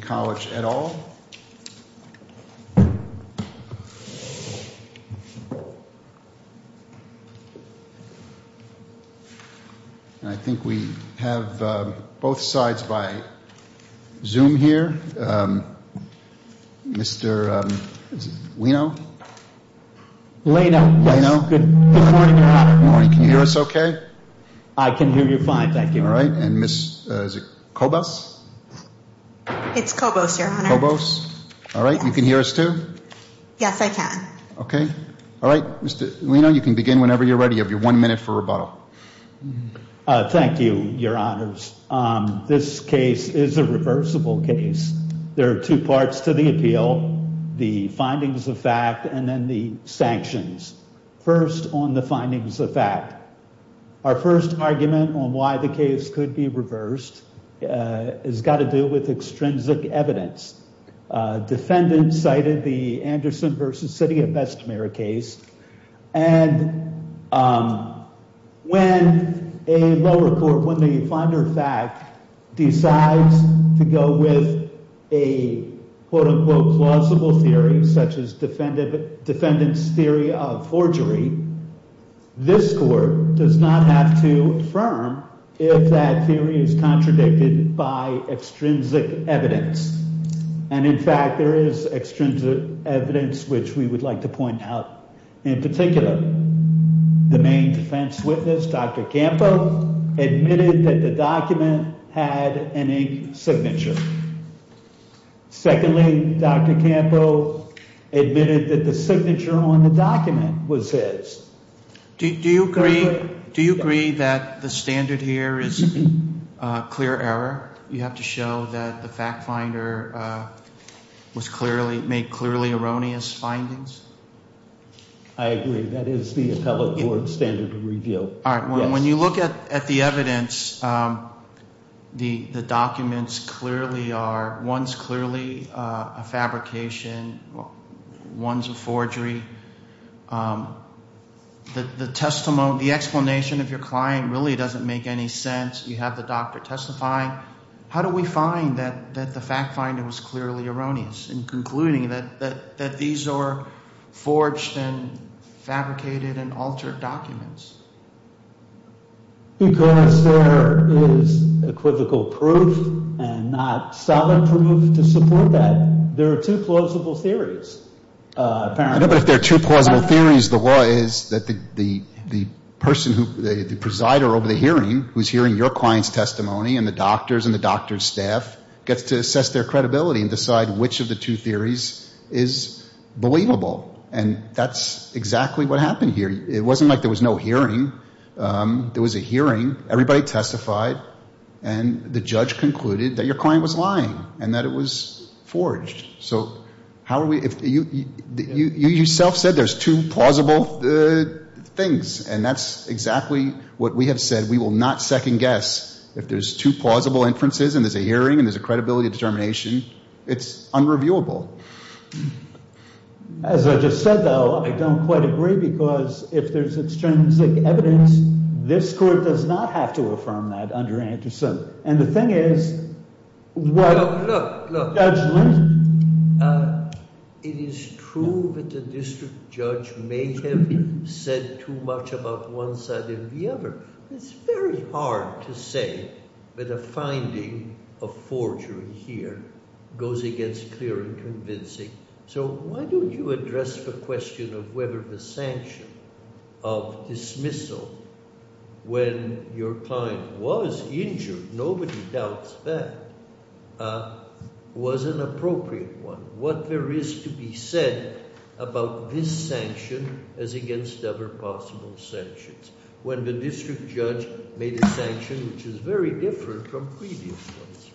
College at all. I think we have both sides by Zoom here. Mr. Lino? Good morning, Your Honor. Can you hear us okay? I can hear you fine, thank you. All right. And Ms. Kobos? It's Kobos, Your Honor. Kobos. All right. You can hear us too? Yes, I can. Okay. All right. Mr. Lino, you can begin whenever you're ready. You have your one minute for rebuttal. Thank you, Your Honors. This case is a reversible case. There are two parts to the appeal. The findings of fact and then the sanctions. First on the findings of fact. Our first argument on why the case could be reversed has got to do with extrinsic evidence. Defendants cited the Anderson v. City of Bessemer case. And when a lower court, when the finder of fact decides to go with a quote unquote plausible theory such as defendant's theory of forgery, this court does not have to affirm if that theory is contradicted by extrinsic evidence. And in fact, there is extrinsic evidence which we would like to point out in particular. The main defense witness, Dr. Campo, admitted that the document had an ink signature. Secondly, Dr. Campo admitted that the signature on the document was his. Do you agree that the standard here is clear error? You have to show that the fact finder made clearly erroneous findings? I agree. That is the appellate court standard of review. When you look at the evidence, the documents clearly are, one is clearly a fabrication, one is a forgery. The testimony, the explanation of your client really doesn't make any sense. You have the doctor testifying. How do we find that the fact finder was clearly erroneous in concluding that these are forged and fabricated and altered documents? Because there is equivocal proof and not solid proof to support that. There are two plausible theories. But if there are two plausible theories, the law is that the person, the presider over the hearing who is hearing your client's testimony and the doctor's and the doctor's staff gets to assess their credibility and decide which of the two theories is believable. And that's exactly what happened here. It wasn't like there was no hearing. There was a hearing. Everybody testified. And the judge concluded that your client was lying and that it was forged. You yourself said there's two plausible things. And that's exactly what we have said. We will not second-guess if there's two plausible inferences and there's a hearing and there's a credibility determination. It's unreviewable. As I just said, though, I don't quite agree because if there's extrinsic evidence, this court does not have to affirm that under ante sub. And the thing is, what the judge learned… …was an appropriate one. What there is to be said about this sanction is against other possible sanctions. When the district judge made a sanction which is very different from previous ones.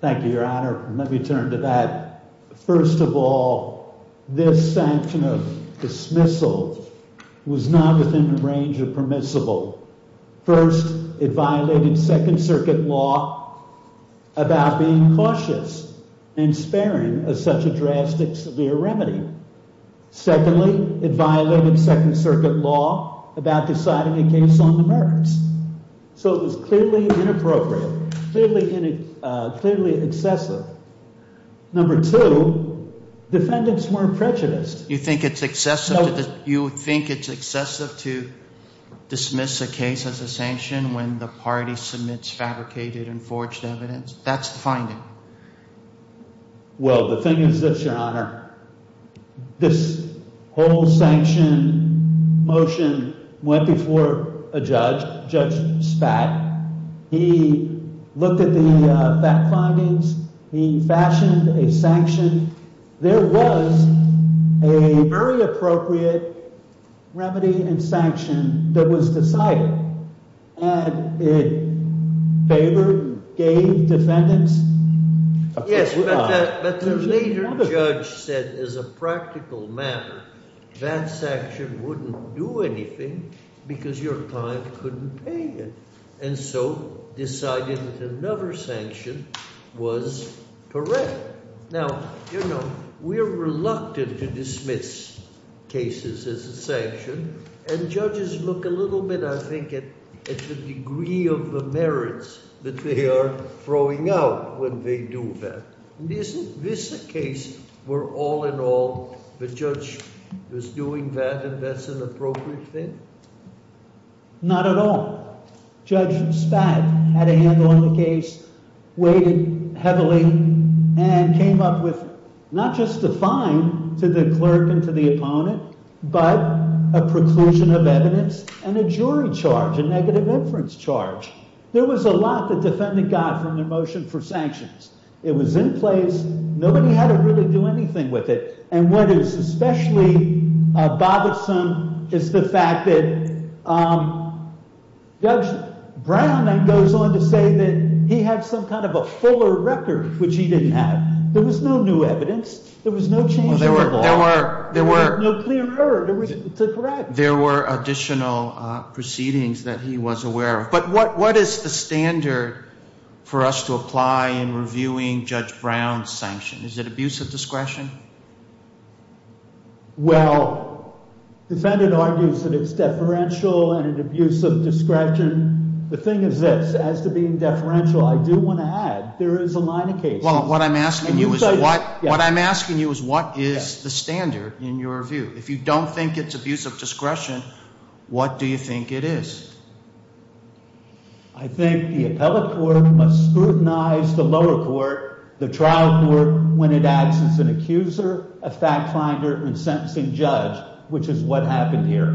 Thank you, Your Honor. Let me turn to that. First of all, this sanction of dismissal was not within the range of permissible. First, it violated Second Circuit law about being cautious and sparing of such a drastic, severe remedy. Secondly, it violated Second Circuit law about deciding a case on the merits. So it was clearly inappropriate, clearly excessive. Number two, defendants weren't prejudiced. You think it's excessive to dismiss a case as a sanction when the party submits fabricated and forged evidence? That's the finding. Well, the thing is this, Your Honor. This whole sanction motion went before a judge, Judge Spatt. He looked at the fact findings. He fashioned a sanction. There was a very appropriate remedy and sanction that was decided. And it favored, gave defendants a fair shot. Yes, but the later judge said as a practical matter, that sanction wouldn't do anything because your client couldn't pay you. And so decided that another sanction was correct. Now, you know, we're reluctant to dismiss cases as a sanction. And judges look a little bit, I think, at the degree of the merits that they are throwing out when they do that. Isn't this a case where all in all the judge was doing that and that's an appropriate thing? Not at all. Judge Spatt had a handle on the case, weighed it heavily, and came up with not just a fine to the clerk and to the opponent, but a preclusion of evidence and a jury charge, a negative inference charge. There was a lot that defendant got from their motion for sanctions. It was in place. Nobody had to really do anything with it. And what is especially bothersome is the fact that Judge Brown then goes on to say that he had some kind of a fuller record, which he didn't have. There was no new evidence. There was no change in the law. There were additional proceedings that he was aware of. But what is the standard for us to apply in reviewing Judge Brown's sanction? Is it abuse of discretion? Well, defendant argues that it's deferential and an abuse of discretion. The thing is this, as to being deferential, I do want to add there is a line of cases. Well, what I'm asking you is what is the standard in your view? If you don't think it's abuse of discretion, what do you think it is? I think the appellate court must scrutinize the lower court, the trial court, when it acts as an accuser, a fact finder, and sentencing judge, which is what happened here.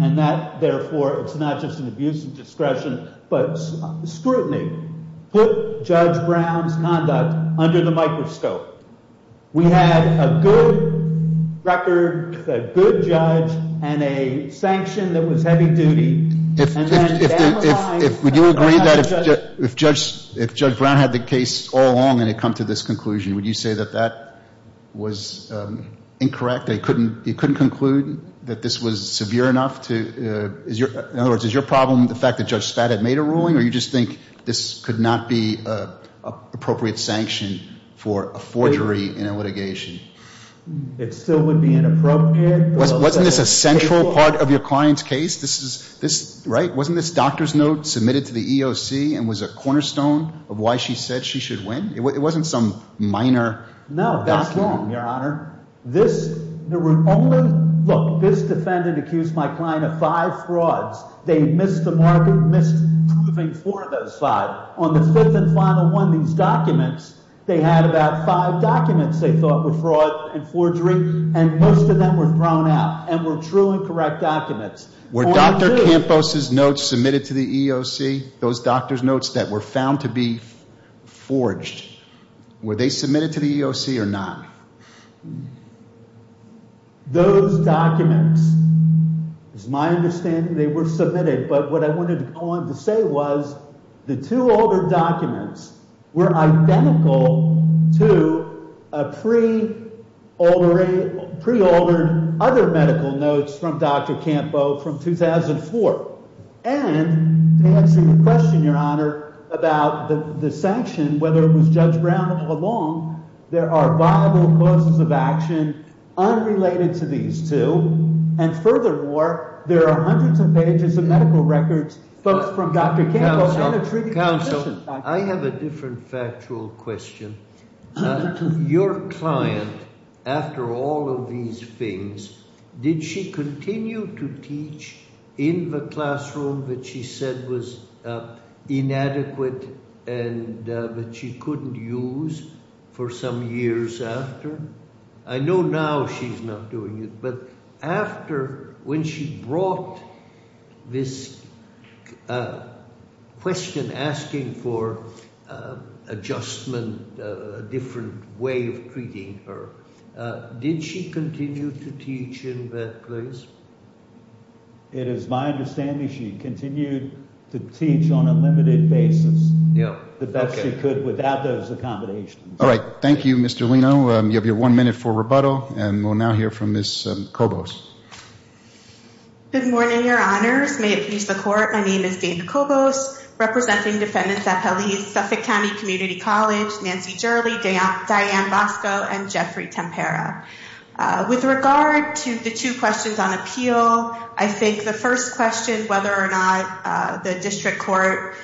And that, therefore, it's not just an abuse of discretion, but scrutiny. Put Judge Brown's conduct under the microscope. We had a good record, a good judge, and a sanction that was heavy-duty. Would you agree that if Judge Brown had the case all along and had come to this conclusion, would you say that that was incorrect? That he couldn't conclude that this was severe enough? In other words, is your problem the fact that Judge Spada had made a ruling, or do you just think this could not be an appropriate sanction for a forgery in a litigation? It still would be inappropriate. Wasn't this a central part of your client's case? Wasn't this doctor's note submitted to the EOC and was a cornerstone of why she said she should win? It wasn't some minor document. No, that's wrong, Your Honor. Look, this defendant accused my client of five frauds. They missed the market, missed proving four of those five. On the fifth and final one of these documents, they had about five documents they thought were fraud and forgery, and most of them were thrown out and were true and correct documents. Were Dr. Campos's notes submitted to the EOC, those doctor's notes that were found to be forged, were they submitted to the EOC or not? Those documents, it's my understanding they were submitted. But what I wanted to go on to say was the two altered documents were identical to a pre-altered other medical notes from Dr. Campos from 2004. And to answer your question, Your Honor, about the sanction, whether it was Judge Brown or Long, there are viable causes of action unrelated to these two. And furthermore, there are hundreds of pages of medical records from Dr. Campos and attributed to the patient. Counsel, I have a different factual question. Your client, after all of these things, did she continue to teach in the classroom that she said was inadequate and that she couldn't use for some years after? I know now she's not doing it, but after when she brought this question asking for adjustment, a different way of treating her, did she continue to teach in that place? It is my understanding she continued to teach on a limited basis the best she could without those accommodations. All right. Thank you, Mr. Lino. You have your one minute for rebuttal, and we'll now hear from Ms. Cobos. Good morning, Your Honors. May it please the Court, my name is Dana Cobos, representing defendants at Pelley's Suffolk County Community College, Nancy Jurley, Diane Bosco, and Jeffrey Tempera. With regard to the two questions on appeal, I think the first question, whether or not the district court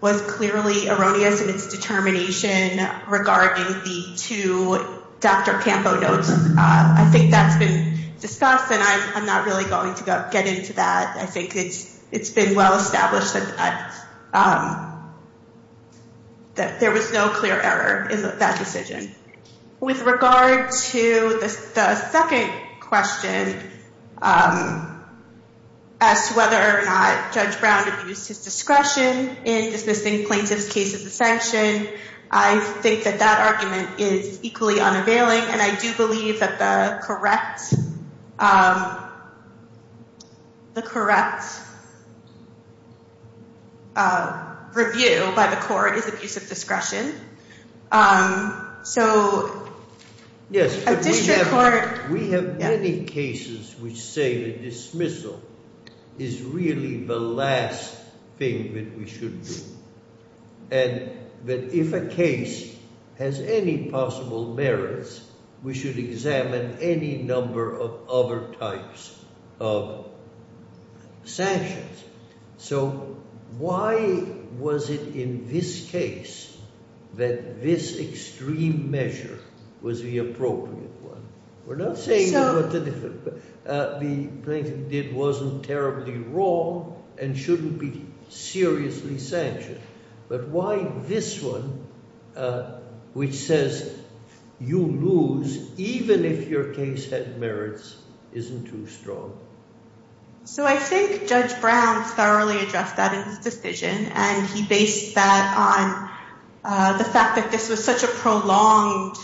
was clearly erroneous in its determination regarding the two Dr. Campo notes, I think that's been discussed, and I'm not really going to get into that. I think it's been well established that there was no clear error in that decision. With regard to the second question as to whether or not Judge Brown abused his discretion in dismissing plaintiff's case as a sanction, I think that that argument is equally unavailing, and I do believe that the correct review by the court is abuse of discretion. Yes, but we have many cases which say the dismissal is really the last thing that we should do, and that if a case has any possible merits, we should examine any number of other types of sanctions. So why was it in this case that this extreme measure was the appropriate one? We're not saying that what the plaintiff did wasn't terribly wrong and shouldn't be seriously sanctioned, but why this one, which says you lose even if your case had merits, isn't too strong? So I think Judge Brown thoroughly addressed that in his decision, and he based that on the fact that this was such a prolonged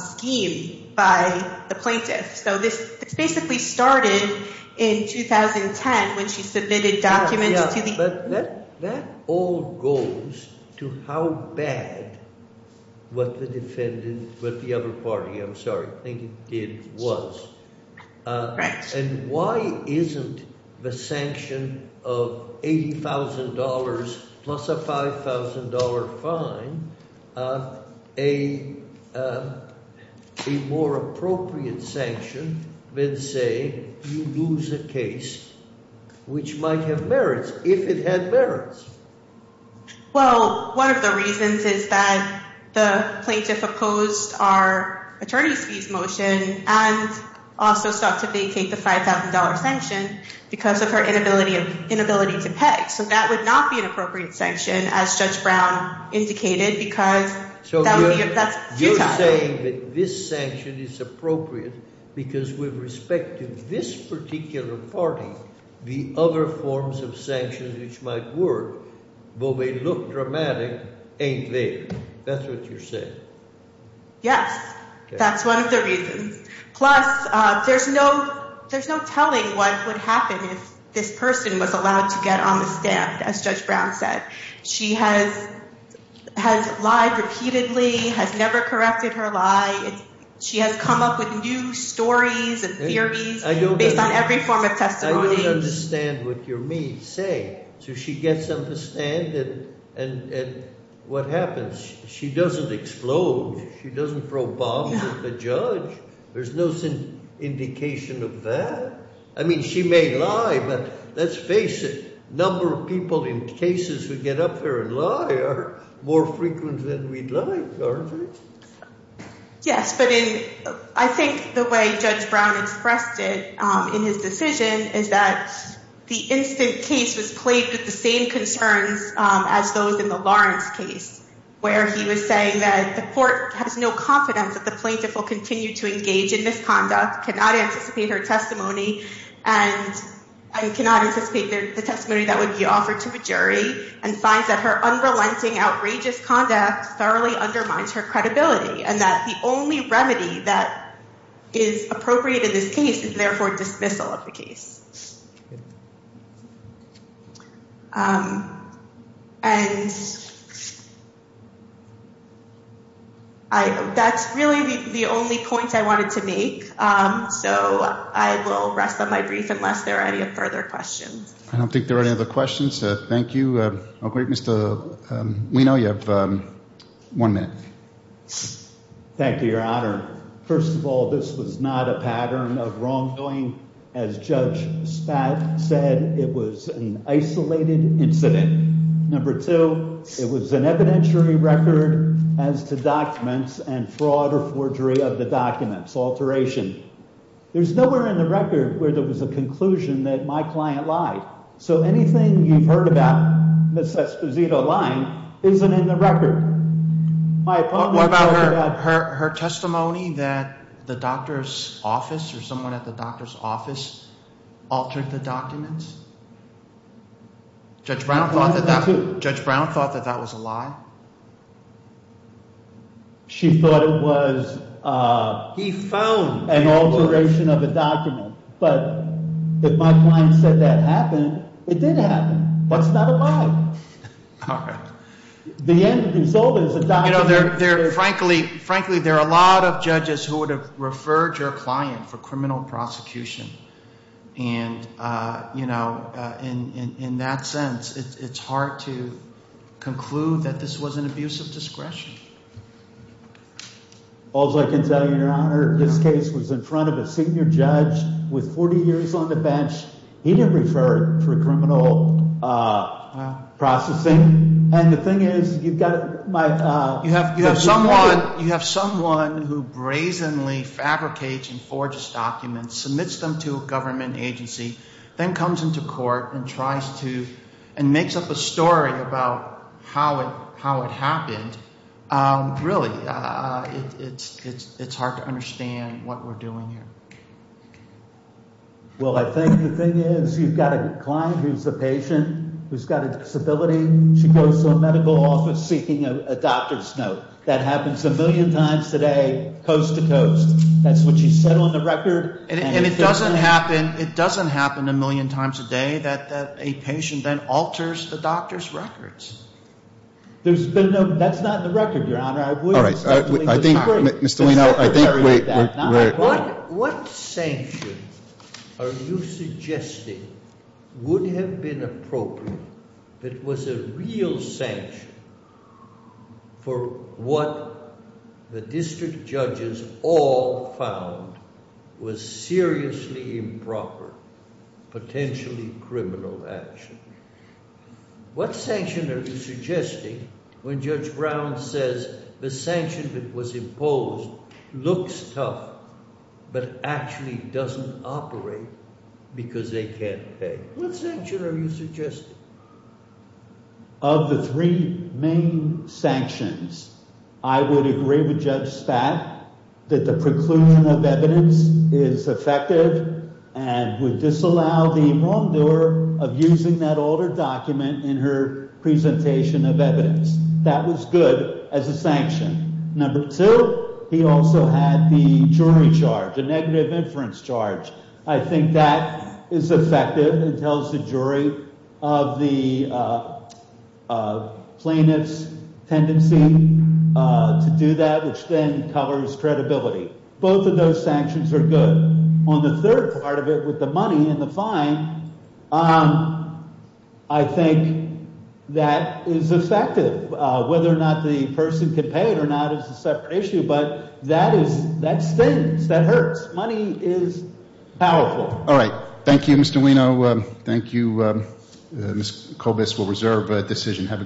scheme by the plaintiff. So this basically started in 2010 when she submitted documents to the… And why isn't the sanction of $80,000 plus a $5,000 fine a more appropriate sanction than say you lose a case which might have merits if it had merits? Well, one of the reasons is that the plaintiff opposed our attorney's fees motion and also sought to vacate the $5,000 sanction because of her inability to pay. So that would not be an appropriate sanction, as Judge Brown indicated, because that's due time. We're not saying that this sanction is appropriate because with respect to this particular party, the other forms of sanctions which might work, though they look dramatic, ain't there. That's what you're saying. Yes. That's one of the reasons. Plus, there's no telling what would happen if this person was allowed to get on the stand, as Judge Brown said. She has lied repeatedly, has never corrected her lie. She has come up with new stories and theories based on every form of testimony. I don't understand what you're saying. So she gets on the stand and what happens? She doesn't explode. She doesn't throw bombs at the judge. There's no indication of that. I mean, she may lie, but let's face it, the number of people in cases who get up there and lie are more frequent than we'd like, aren't they? Yes, but I think the way Judge Brown expressed it in his decision is that the instant case was plagued with the same concerns as those in the Lawrence case, where he was saying that the court has no confidence that the plaintiff will continue to engage in misconduct, cannot anticipate her testimony, and cannot anticipate the testimony that would be offered to a jury, and finds that her unrelenting, outrageous conduct thoroughly undermines her credibility, and that the only remedy that is appropriate in this case is therefore dismissal of the case. And that's really the only point I wanted to make, so I will rest on my brief unless there are any further questions. I don't think there are any other questions. Thank you. We know you have one minute. Thank you, Your Honor. First of all, this was not a pattern of wrongdoing. As Judge Spad said, it was an isolated incident. Number two, it was an evidentiary record as to documents and fraud or forgery of the documents, alteration. There's nowhere in the record where there was a conclusion that my client lied. So anything you've heard about Ms. Esposito lying isn't in the record. What about her testimony that the doctor's office or someone at the doctor's office altered the documents? Judge Brown thought that that was a lie? She thought it was an alteration of a document. But if my client said that happened, it did happen. But it's not a lie. Frankly, there are a lot of judges who would have referred your client for criminal prosecution. And in that sense, it's hard to conclude that this was an abuse of discretion. All's I can tell you, Your Honor, this case was in front of a senior judge with 40 years on the bench. He didn't refer it for criminal processing. You have someone who brazenly fabricates and forges documents, submits them to a government agency, then comes into court and makes up a story about how it happened. Really, it's hard to understand what we're doing here. Well, I think the thing is, you've got a client who's a patient who's got a disability. She goes to a medical office seeking a doctor's note. That happens a million times today, coast to coast. That's what she said on the record. And it doesn't happen a million times a day that a patient then alters the doctor's records. That's not in the record, Your Honor. Mr. Lino, I think we're... What sanction are you suggesting would have been appropriate that was a real sanction for what the district judges all found was seriously improper, potentially criminal action? What sanction are you suggesting when Judge Brown says the sanction that was imposed looks tough but actually doesn't operate because they can't pay? What sanction are you suggesting? Of the three main sanctions, I would agree with Judge Spat that the preclusion of evidence is effective and would disallow the wrongdoer of using that altered document in her presentation of evidence. That was good as a sanction. Number two, he also had the jury charge, a negative inference charge. I think that is effective and tells the jury of the plaintiff's tendency to do that, which then covers credibility. Both of those sanctions are good. On the third part of it, with the money and the fine, I think that is effective. Whether or not the person can pay it or not is a separate issue, but that stings. That hurts. Money is powerful. All right. Thank you, Mr. Lino. Thank you. Ms. Kovas will reserve the decision. Have a good day.